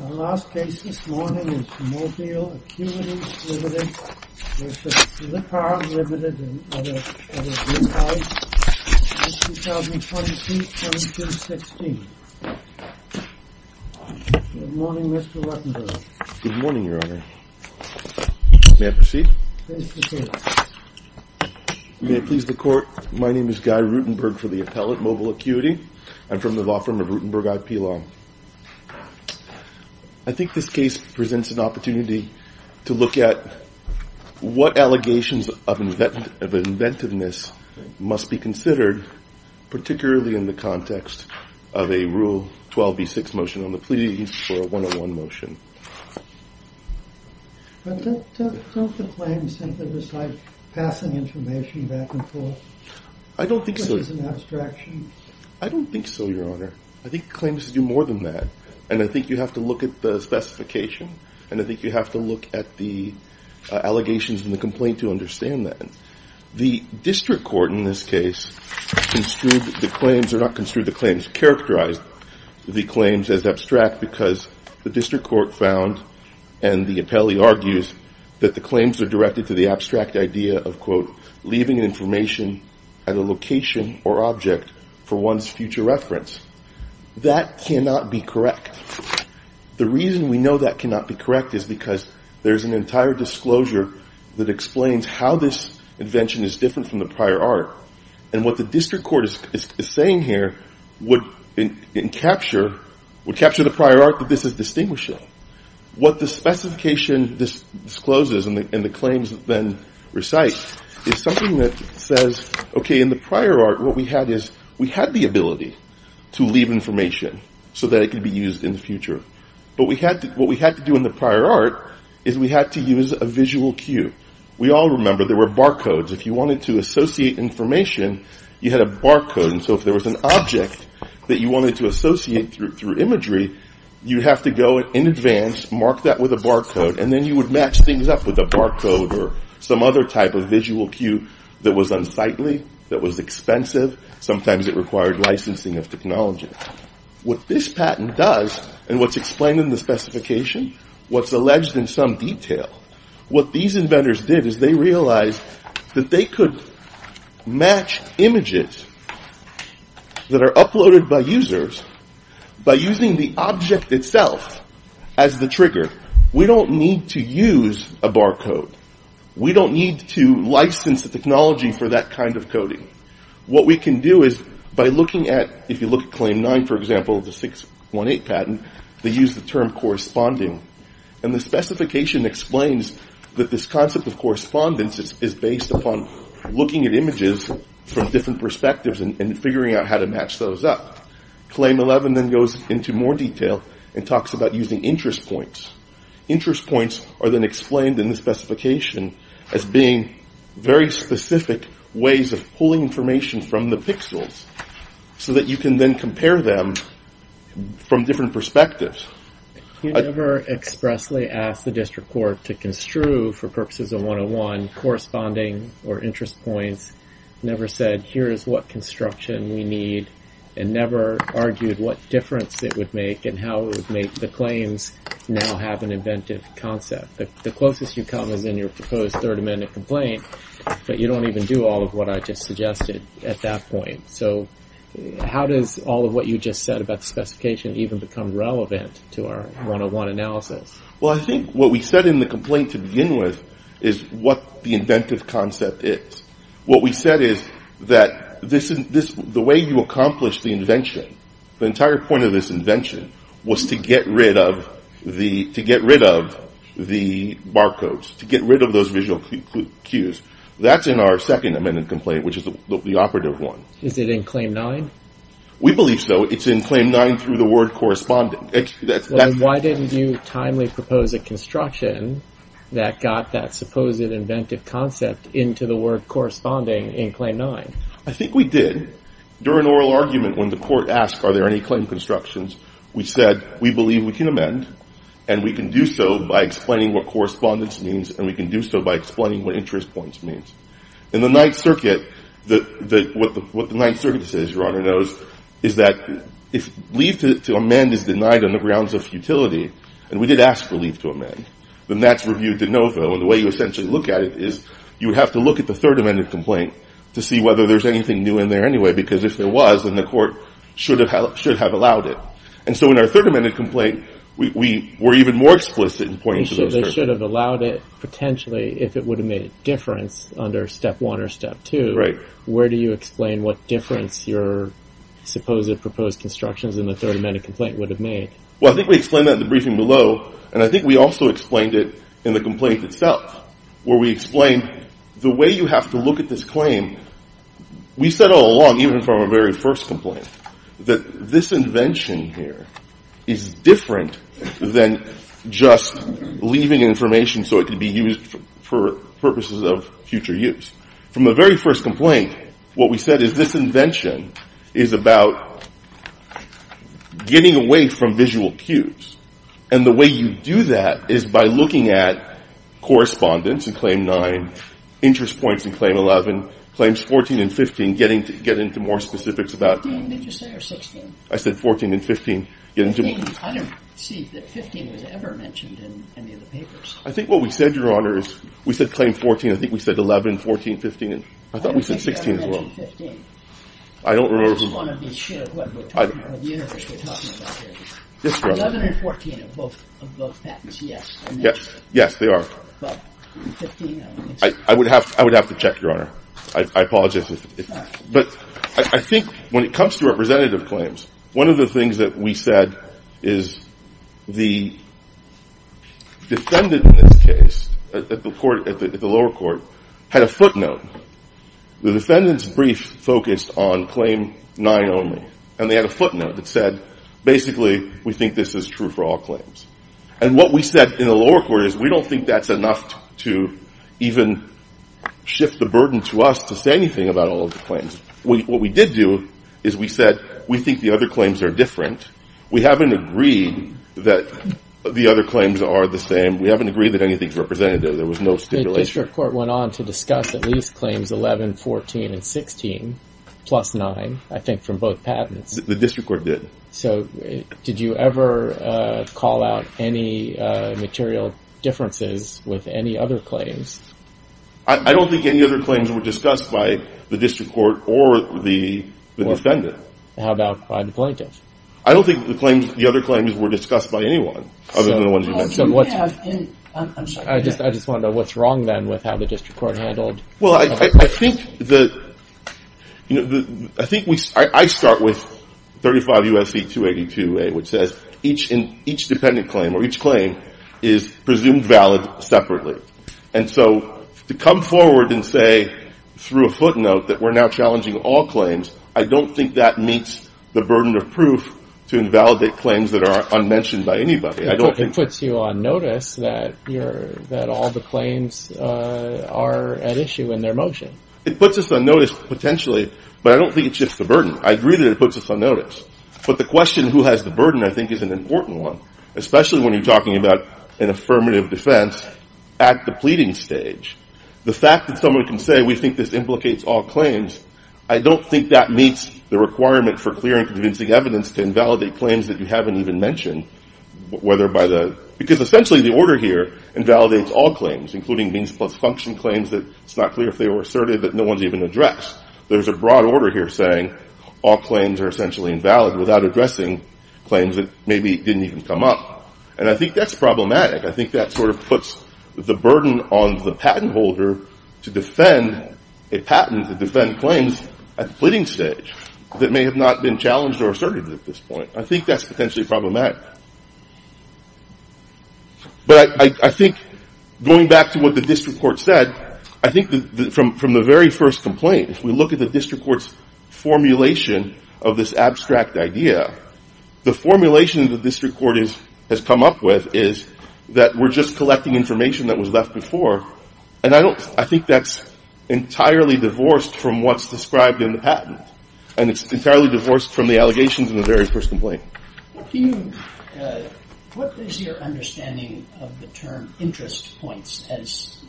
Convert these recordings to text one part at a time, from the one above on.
Our last case this morning is Mobile Acuity Ltd. v. Blippar Ltd. v. Blippar. This is 2020-2016. Good morning, Mr. Ruttenberg. Good morning, Your Honor. May I proceed? Please proceed. May it please the Court, my name is Guy Ruttenberg for the Appellate Mobile Acuity. I'm from the law firm of Ruttenberg IP Law. I think this case presents an opportunity to look at what allegations of inventiveness must be considered particularly in the context of a Rule 12b6 motion on the please for a 101 motion. Don't the claims simply decide passing information back and forth? I don't think so. Which is an abstraction. I don't think so, Your Honor. I think claims do more than that. And I think you have to look at the specification and I think you have to look at the allegations in the complaint to understand that. The district court in this case construed the claims, or not construed the claims characterized the claims as abstract because the district court found and the appellee argues that the claims are directed to the abstract idea of leaving information at a location or object for one's future reference. That cannot be correct. The reason we know that cannot be correct is because there's an entire disclosure that explains how this invention is different from the prior art and what the district court is saying here would capture the prior art that this is distinguishing. What the specification discloses and the claims then recite is something that says, okay, in the prior art, what we had is, we had the ability to leave information so that it could be used in the future. But what we had to do in the prior art is we had to use a visual cue. We all remember there were barcodes. If you wanted to associate information you had a barcode and so if there was an object that you wanted to associate through imagery, you have to go in advance, mark that with a barcode and then you would match things up with a barcode or some other type of visual cue that was unsightly, that was expensive, sometimes it required licensing of technology. What this patent does and what's explained in the specification, what's alleged in some detail, what these inventors did is they realized that they could match images that are uploaded by users by using the object itself as the trigger. We don't need to use a barcode. We don't need to license the technology for that kind of coding. What we can do is by looking at if you look at Claim 9 for example, the 618 patent, they use the term corresponding and the specification explains that this concept of correspondence is based upon looking at images from different perspectives and figuring out how to match those up. Claim 11 then goes into more detail and talks about using interest points. Interest points are then explained in the specification as being very specific ways of pulling information from the pixels so that you can then compare them from different perspectives. You never expressly ask the district court to construe for purposes of 101 corresponding or interest points. Never said here is what construction we need and never argued what difference it would make and how it would make the claims now have an inventive concept. The closest you come is in your proposed third amendment complaint but you don't even do all of what I just suggested at that point. How does all of what you just said about the specification even become relevant to our 101 analysis? What we said in the complaint to begin with is what the inventive concept is. What we said is that the way you accomplish the invention the entire point of this invention was to get rid of the barcodes, to get rid of those visual cues. That's in our second amendment complaint which is the operative one. Is it in claim 9? We believe so. It's in claim 9 through the word corresponding. Why didn't you timely propose a construction that got that supposed inventive concept into the word corresponding in claim 9? I think we did. During oral argument when the court asked are there any claim constructions we said we believe we can amend and we can do so by explaining what correspondence means and we can do so by explaining what interest points means. In the Ninth Circuit what the Ninth Circuit says, Your Honor, is that if leave to amend is denied on the grounds of futility, and we did ask for leave to amend, then that's reviewed de novo and the way you essentially look at it is you have to look at the third amendment complaint to see whether there's anything new in there anyway because if there was then the court should have allowed it. So in our third amendment complaint we're even more explicit in pointing to the Ninth Circuit. They should have allowed it potentially if it would have made a difference under step 1 or step 2. Where do you explain what difference your supposed proposed constructions in the third amendment complaint would have made? I think we explained that in the briefing below and I think we also explained it in the complaint itself where we explained the way you have to look at this claim we said all along even from our very first complaint that this invention here is different than just leaving information so it can be used for purposes of future use. From the very first complaint what we said is this invention is about getting away from visual cues and the way you do that is by looking at correspondence in Claim 9 interest points in Claim 11 Claims 14 and 15 getting to more specifics about I said 14 and 15 I don't see that 15 was ever mentioned in any of the papers I think what we said your honor we said Claim 14, I think we said 11, 14, 15 I thought we said 16 as well I don't remember I just want to be sure of what universe we're talking about here 11 and 14 are both patents yes they are but 15 I would have to check your honor I apologize I think when it comes to representative claims one of the things that we said is the defendant in this case at the lower court had a footnote the defendant's brief focused on Claim 9 only and they had a footnote that said basically we think this is true for all claims and what we said in the lower court is we don't think that's enough to even shift the burden to us to say anything about all of the claims what we did do is we said we think the other claims are different we haven't agreed that the other claims are the same we haven't agreed that anything is representative there was no stipulation the district court went on to discuss at least claims 11, 14, and 16 plus 9 I think from both patents the district court did so did you ever call out any material differences with any other claims I don't think any other claims were discussed by the district court or the defendant how about by the plaintiff I don't think the other claims were discussed by anyone other than the ones you mentioned I'm sorry I just wanted to know what's wrong then with how the district court handled well I think I think I start with 35 U.S.C. 282a which says each dependent claim or each claim is presumed valid separately and so to come forward and say through a footnote that we're now challenging all claims I don't think that meets the burden of proof to invalidate claims that are unmentioned by anybody it puts you on notice that all the claims are at issue in their motion it puts us on notice potentially but I don't think it shifts the burden I agree that it puts us on notice but the question who has the burden I think is an important one especially when you're talking about an affirmative defense at the pleading stage the fact that someone can say we think this implicates all claims I don't think that meets the requirement for clear and convincing evidence to invalidate claims that you haven't even mentioned whether by the because essentially the order here invalidates all claims including means plus function claims that it's not clear if they were asserted that no one's even addressed there's a broad order here saying all claims are essentially invalid without addressing claims that maybe didn't even come up and I think that's problematic I think that sort of puts the burden on the patent holder to defend a patent to defend claims at the pleading stage that may have not been challenged or asserted at this point I think that's potentially problematic but I think going back to what the district court said I think from the very first complaint if we look at the district court's formulation of this abstract idea the formulation the district court has come up with is that we're just collecting information that was left before and I think that's entirely divorced from what's described in the patent and it's entirely divorced from the allegations in the very first complaint What is your understanding of the term interest points as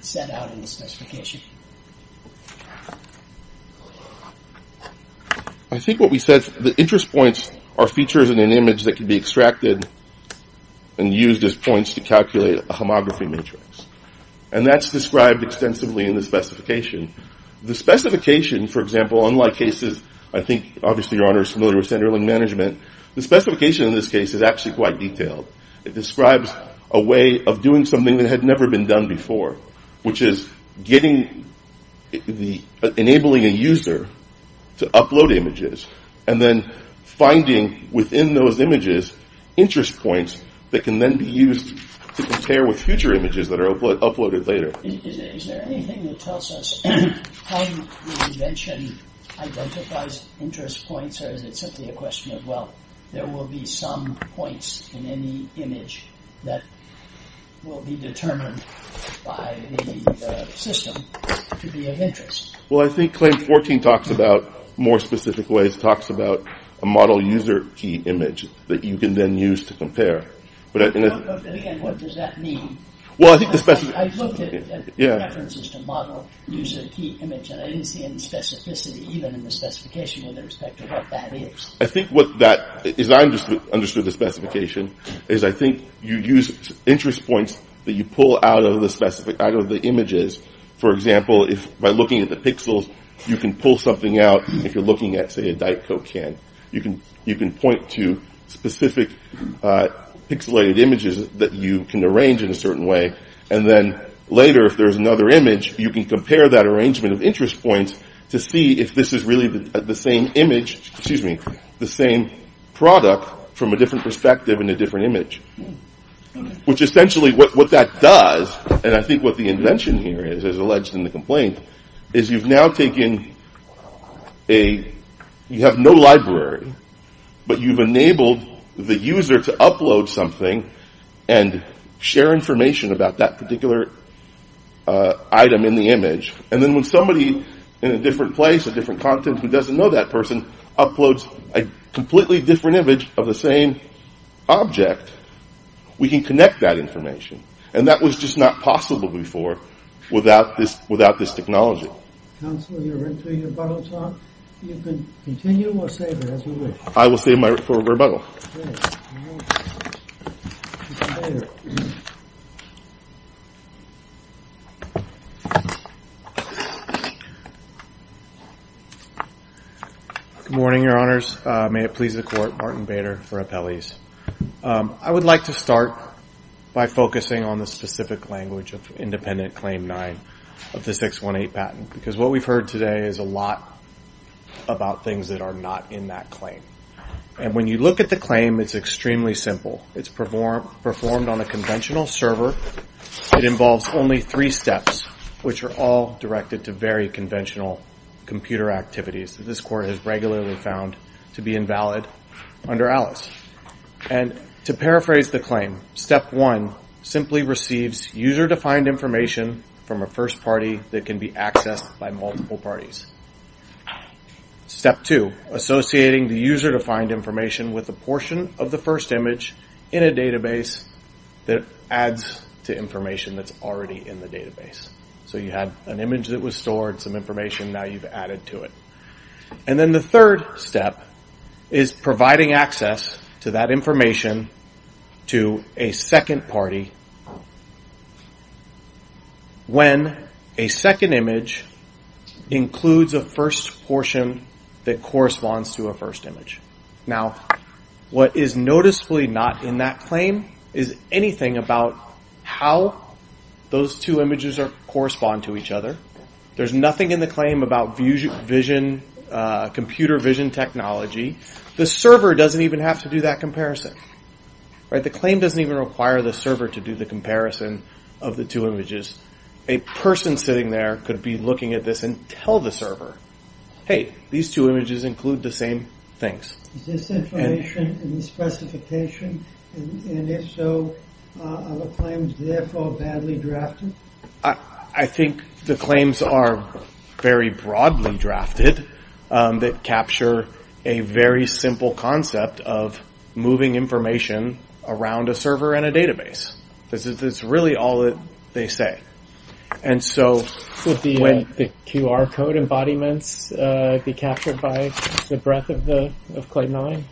set out in the specification I think what we said the interest points are features in an image that can be extracted and used as points to calculate a homography matrix and that's described extensively in the specification the specification for example unlike cases I think obviously your honor is familiar with center link management the specification in this case is actually quite detailed it describes a way of doing something that had never been done before which is getting enabling a user to upload images and then finding within those images interest points that can then be used to compare with future images that are uploaded later Is there anything that tells us how the invention identifies interest points or is it simply a question of well there will be some points in any image that will be determined by the system to be of interest Well I think claim 14 talks about more specific ways, talks about a model user key image that you can then use to compare But again what does that mean Well I think the specification I looked at references to model user key image and I didn't see any specificity even in the specification in respect to what that is I think what that is I understood the specification is I think you use interest points that you pull out of the images for example by looking at the pixels you can pull something out if you're looking at say a diet coke can you can point to specific pixelated images that you can arrange in a certain way and then later if there's another image you can compare that arrangement of interest points to see if this is really the same image, excuse me the same product from a different perspective and a different image which essentially what that does and I think what the invention here is as alleged in the complaint is you've now taken a you have no library but you've enabled the user to upload something and share information about that particular item in the image and then when somebody in a different place a different content who doesn't know that person uploads a completely different image of the same object we can connect that information and that was just not possible before without this technology Counselor you're into your rebuttal talk you can continue or save it as you wish I will save my rebuttal Good morning your honors may it please the court Martin Bader for appellees I would like to start by focusing on the specific language of independent claim 9 of the 618 patent because what we've heard today is a lot about things that are not in that claim and when you look at the claim it's extremely simple it's performed on a conventional server it involves only 3 steps which are all directed to very conventional computer activities that this court has regularly found to be invalid under ALICE and to paraphrase the claim step 1 simply receives user defined information from a first party that can be accessed by multiple parties step 2 associating the user defined information with the portion of the first image in a database that adds to information that's already in the database so you have an image that was stored, some information now you've added to it and then the third step is providing access to that information to a second party when a second image includes a first portion that corresponds to a first image now what is noticeably not in that claim is anything about how those two images correspond to each other there's nothing in the claim about computer vision technology the server doesn't even have to do that comparison the claim doesn't even require the server to do the comparison of the two images a person sitting there could be looking at this and tell the server hey, these two images include the same things is this information in the specification and if so are the claims therefore badly drafted? I think the claims are very broadly drafted that capture a very simple concept of moving information around a server and a database that's really all that they say and so would the QR code embodiments be captured by the breadth of claim 9?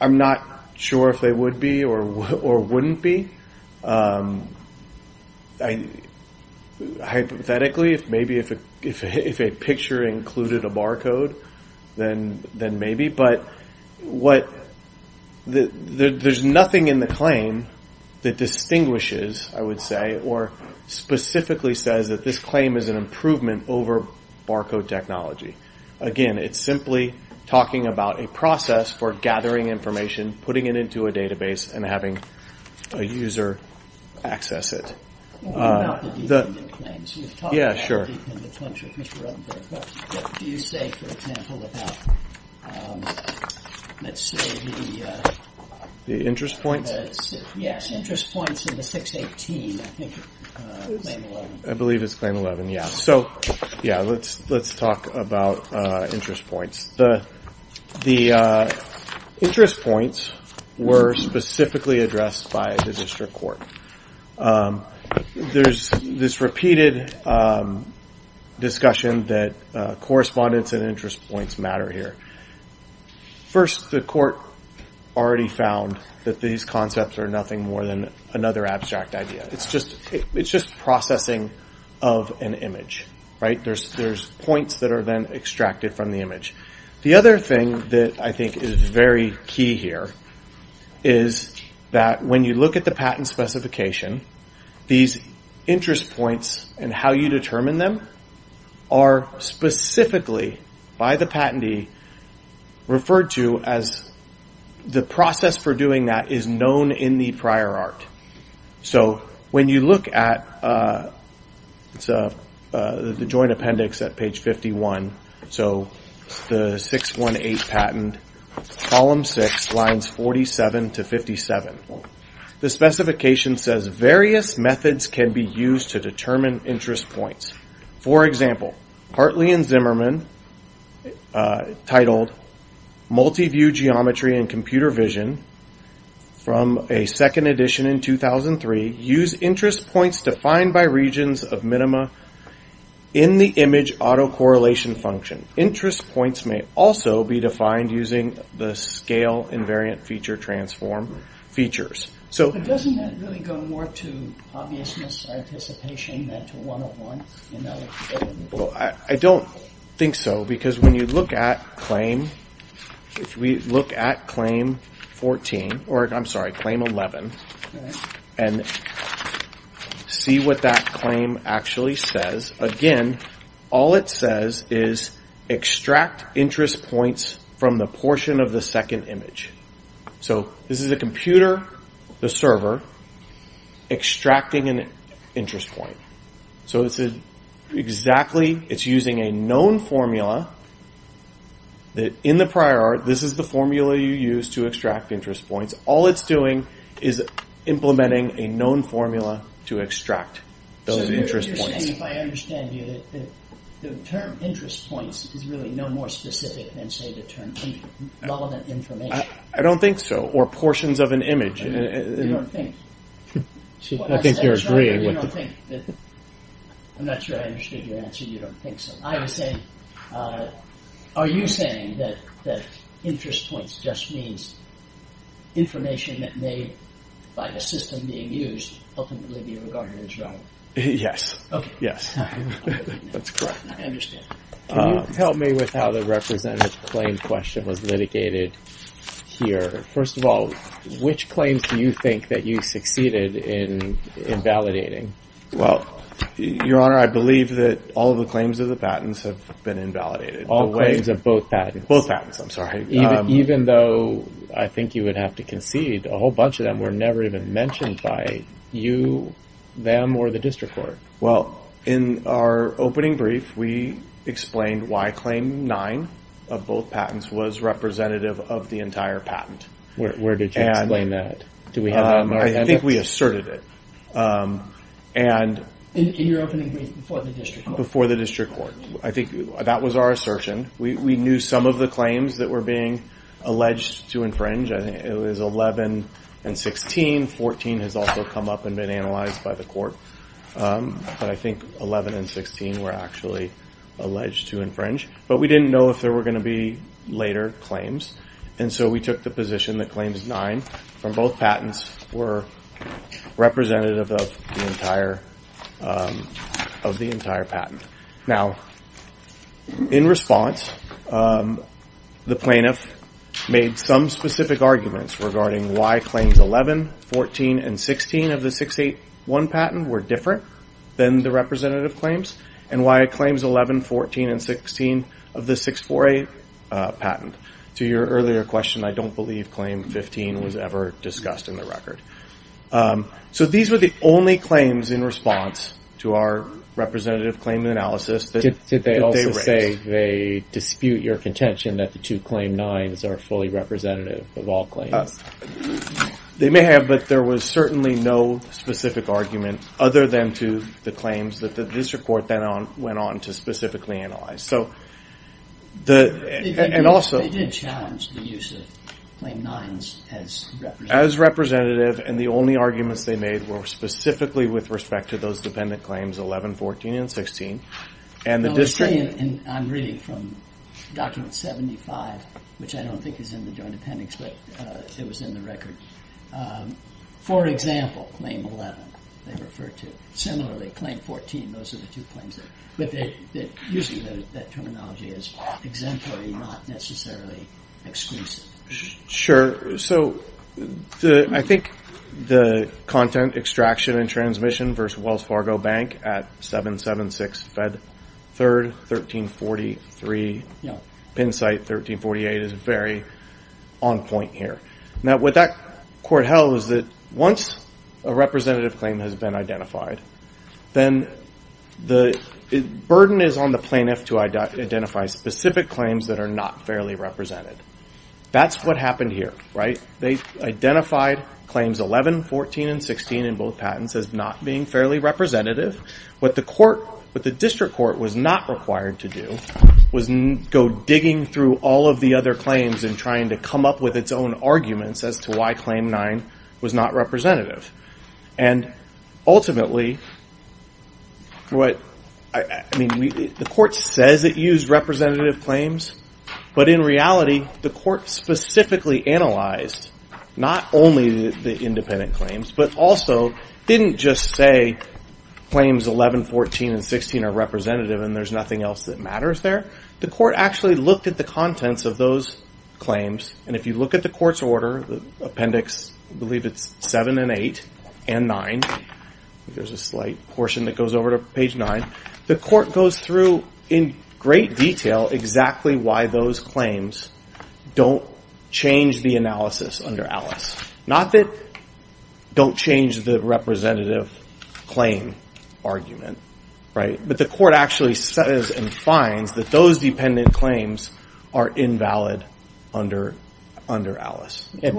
I'm not sure if they would be or wouldn't be hypothetically if a picture included a barcode then maybe but there's nothing in the claim that distinguishes or specifically says that this claim is an improvement over barcode technology again, it's simply talking about a process for gathering information, putting it into a database and having a user access it the interest points? I believe it's claim 11 so let's talk about interest points the interest points were specifically addressed by the district court there's this repeated discussion that correspondence and interest points matter here first the court already found that these concepts are nothing more than another abstract idea, it's just processing of an image there's points that are then extracted from the image the other thing that I think is very key here is that when you look at the patent specification these interest points and how you determine them are specifically by the patentee referred to as the process for doing that is known in the prior art so when you look at the joint appendix at page 51 the 618 patent column 6 lines 47 to 57 the specification says various methods can be used to determine interest points for example, Hartley and Zimmerman titled multi-view geometry and computer vision from a second edition in 2003, use interest points defined by regions of minima in the image autocorrelation function interest points may also be defined using the scale invariant feature transform features but doesn't that really go more to obviousness or anticipation than to 101? I don't think so because when you look at claim if we look at claim 14 I'm sorry, claim 11 and see what that claim actually says again, all it says is extract interest points from the portion of the second image so this is a computer the server extracting an interest point so it's exactly it's using a known formula that in the prior art, this is the formula you use to extract interest points all it's doing is implementing a known formula to extract those interest points if I understand you the term interest points is really no more specific than say the term relevant information I don't think so, or portions of an image I don't think I think you're agreeing with I'm not sure I understood your answer you don't think so are you saying that interest points just means information that made by the system being used ultimately be regarded as relevant? Yes that's correct can you help me with how the representative claim question was litigated here, first of all which claims do you think that you succeeded in validating? Well your honor, I believe that all of the claims of the patents have been invalidated all claims of both patents? Both patents I'm sorry. Even though I think you would have to concede a whole bunch of them were never even mentioned by you, them, or the district court. Well, in our opening brief, we explained why claim 9 of both patents was representative of the entire patent where did you explain that? I think we asserted it in your opening brief before the district court I think that was our assertion we knew some of the claims that were being alleged to infringe it was 11 and 16, 14 has also come up and been analyzed by the court but I think 11 and 16 were actually alleged to infringe, but we didn't know if there were going to be later claims and so we took the position that claims 9 from both patents were representative of the entire of the entire patent. Now in response the plaintiff made some specific arguments regarding why claims 11, 14 and 16 of the 681 patent were different than the representative claims and why claims 11, 14, and 16 of the 648 patent to your earlier question, I don't believe claim 15 was ever discussed in the record. So these were the only claims in response to our representative claim analysis that they raised. Did they also say they dispute your contention that the two claim 9's are fully representative of all claims? They may have, but there was certainly no specific argument other than to the claims that the district court went on to specifically analyze. They didn't challenge the use of representative and the only arguments they made were specifically with respect to those dependent claims 11, 14, and 16. I'm reading from document 75, which I don't think is in the joint appendix, but it was in the record. For example, claim 11 they referred to. Similarly, claim 14, those are the two claims. Using that terminology as exemplary, not necessarily exclusive. Sure. I think the content extraction and transmission versus Wells Fargo Bank at 776 Fed 3rd 1343 Pinsite 1348 is very on point here. What that court held was that once a representative claim has been identified, then the burden is on the plaintiff to identify specific claims that are not fairly represented. That's what happened here. They identified claims 11, 14, and 16 in both patents as not being fairly representative. What the district court was not required to do was go digging through all of the other claims and trying to come up with its own arguments as to why claim 9 was not representative. Ultimately, the court says it used representative claims, but in reality, the court specifically analyzed not only the independent claims, but also didn't just say claims 11, 14, and 16 are representative and there's nothing else that matters there. The court actually looked at the contents of those claims. If you look at the court's order, the appendix, I believe it's 7 and 8 and 9. There's a slight portion that goes over to page 9. The court goes through in great detail exactly why those claims don't change the analysis under Alice. Not that don't change the representative claim argument, but the court actually says and finds that those dependent claims are invalid under Alice. The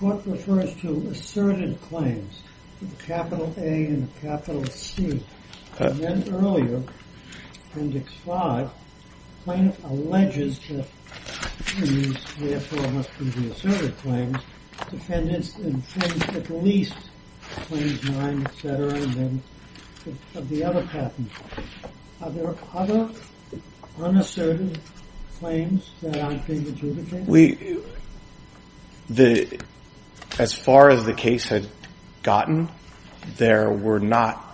court refers to asserted claims, with a capital A and a capital C. Then earlier, appendix 5, the plaintiff alleges that these, therefore, must be the asserted claims dependents at least claims 9, etc., and then of the other patents. Are there other unasserted claims that aren't being adjudicated? As far as the case had gotten, there were not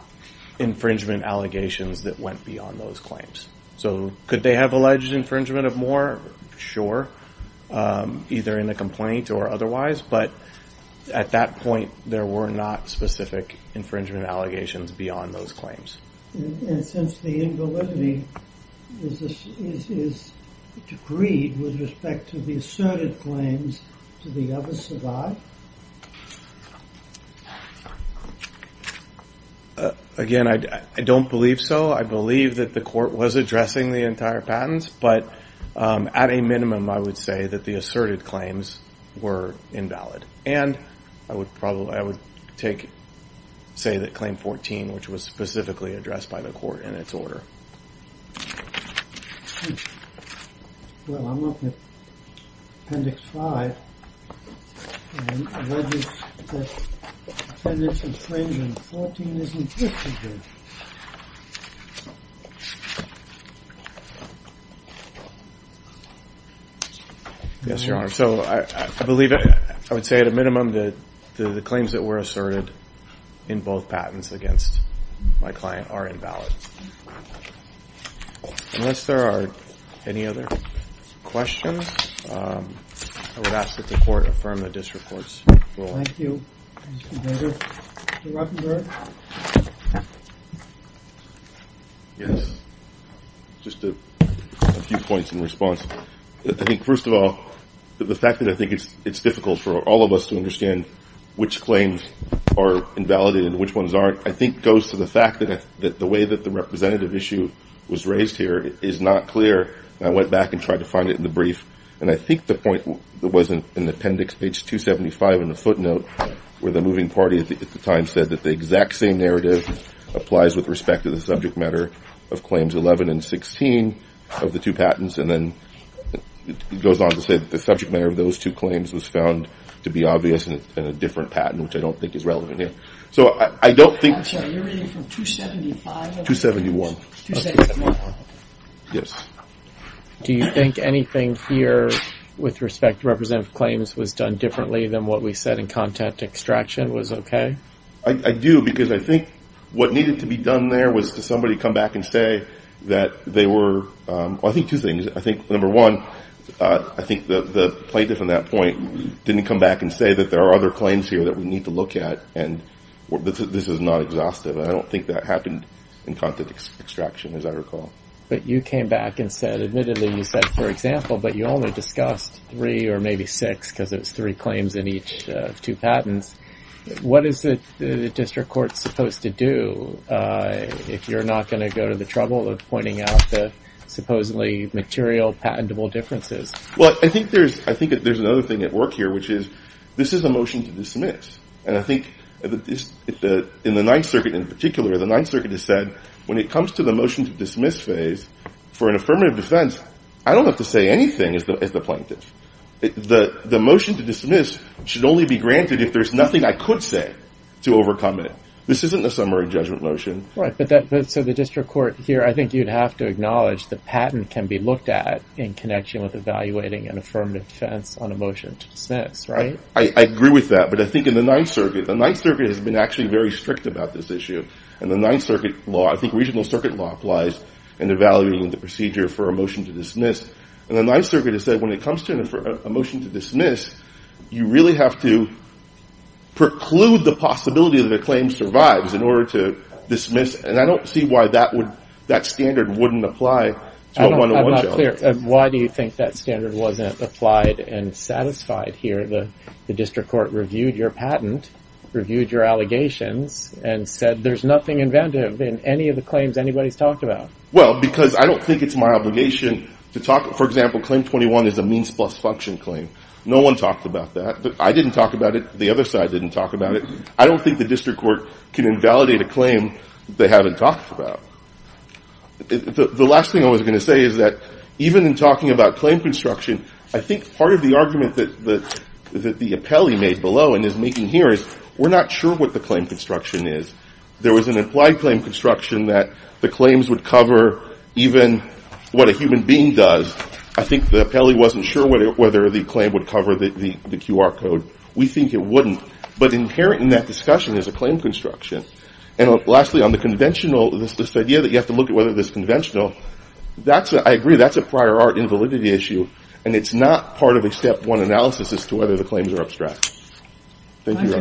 infringement allegations that went beyond those claims. Could they have alleged infringement of more? Sure. Either in a complaint or otherwise, but at that point, there were not specific infringement allegations beyond those claims. Since the invalidity is agreed with respect to the asserted claims, do the others survive? Again, I don't believe so. I believe that the court was addressing the entire patents, but at a minimum, I would say that the asserted claims were invalid. I would say that claim 14, which was specifically addressed by the court in its order. Well, I'm looking at appendix 5, and I read that appendix infringement 14 isn't listed there. Yes, Your Honor. I believe I would say at a minimum that the claims that were asserted in both patents against my client are invalid. Unless there are any other questions, I would ask that the court affirm the district court's ruling. Thank you. Mr. Ruckenberg? Yes. Just a few points in response. First of all, the fact that I think it's difficult for all of us to understand which claims are invalid and which ones aren't, I think goes to the fact that the way that the representative issue was raised here is not clear. I went back and tried to find it in the brief, and I think the point that was in appendix page 275 in the footnote where the moving party at the time said that the exact same narrative applies with respect to the subject matter of claims 11 and 16 of the two patents, and then it goes on to say that the subject matter of those two claims was found to be obvious in a different patent, which I don't think is relevant here. So I don't think You're reading from 275? 271. Yes. Do you think anything here with respect to representative claims was done differently than what we said in content extraction was okay? I do, because I think what needed to be done there was to somebody come back and say that they were I think two things. I think, number one, I think the plaintiff on that point didn't come back and say that there are other claims here that we need to look at and this is not exhaustive. I don't think that happened in content extraction, as I recall. But you came back and said, admittedly, you said, for example, but you only discussed three or maybe six, because it was three claims in each of two patents. What is the district court supposed to do if you're not going to go to the trouble of pointing out the supposedly material, patentable differences? Well, I think there's another thing at work here, which is, this is a motion to dismiss, and I think in the Ninth Circuit in particular, the Ninth Circuit has said, when it comes to the motion to dismiss phase, for an affirmative defense, I don't have to say anything as the plaintiff. The motion to dismiss should only be granted if there's nothing I could say to overcome it. This isn't a summary judgment motion. Right, but so the district court here, I think you'd have to acknowledge the patent can be looked at in connection with a motion to dismiss, right? I agree with that, but I think in the Ninth Circuit, the Ninth Circuit has been actually very strict about this issue, and the Ninth Circuit law, I think regional circuit law applies in evaluating the procedure for a motion to dismiss, and the Ninth Circuit has said, when it comes to a motion to dismiss, you really have to preclude the possibility that a claim survives in order to dismiss, and I don't see why that standard wouldn't apply to a one-to-one judgment. Why do you think that standard wasn't applied and satisfied here? The district court reviewed your patent, reviewed your allegations, and said there's nothing inventive in any of the claims anybody's talked about. Well, because I don't think it's my obligation to talk, for example, claim 21 is a means plus function claim. No one talked about that. I didn't talk about it. The other side didn't talk about it. I don't think the district court can invalidate a claim they haven't talked about. The last thing I was going to say is that even in talking about claim construction, I think part of the argument that the appellee made below and is making here is we're not sure what the claim construction is. There was an implied claim construction that the claims would cover even what a human being does. I think the appellee wasn't sure whether the claim would cover the QR code. We think it wouldn't, but inherent in that discussion is a claim construction. Lastly, on the conventional idea that you have to look at whether this is conventional, I agree that's a prior art invalidity issue, and it's not part of a step one analysis as to whether the claims are abstract. Thank you.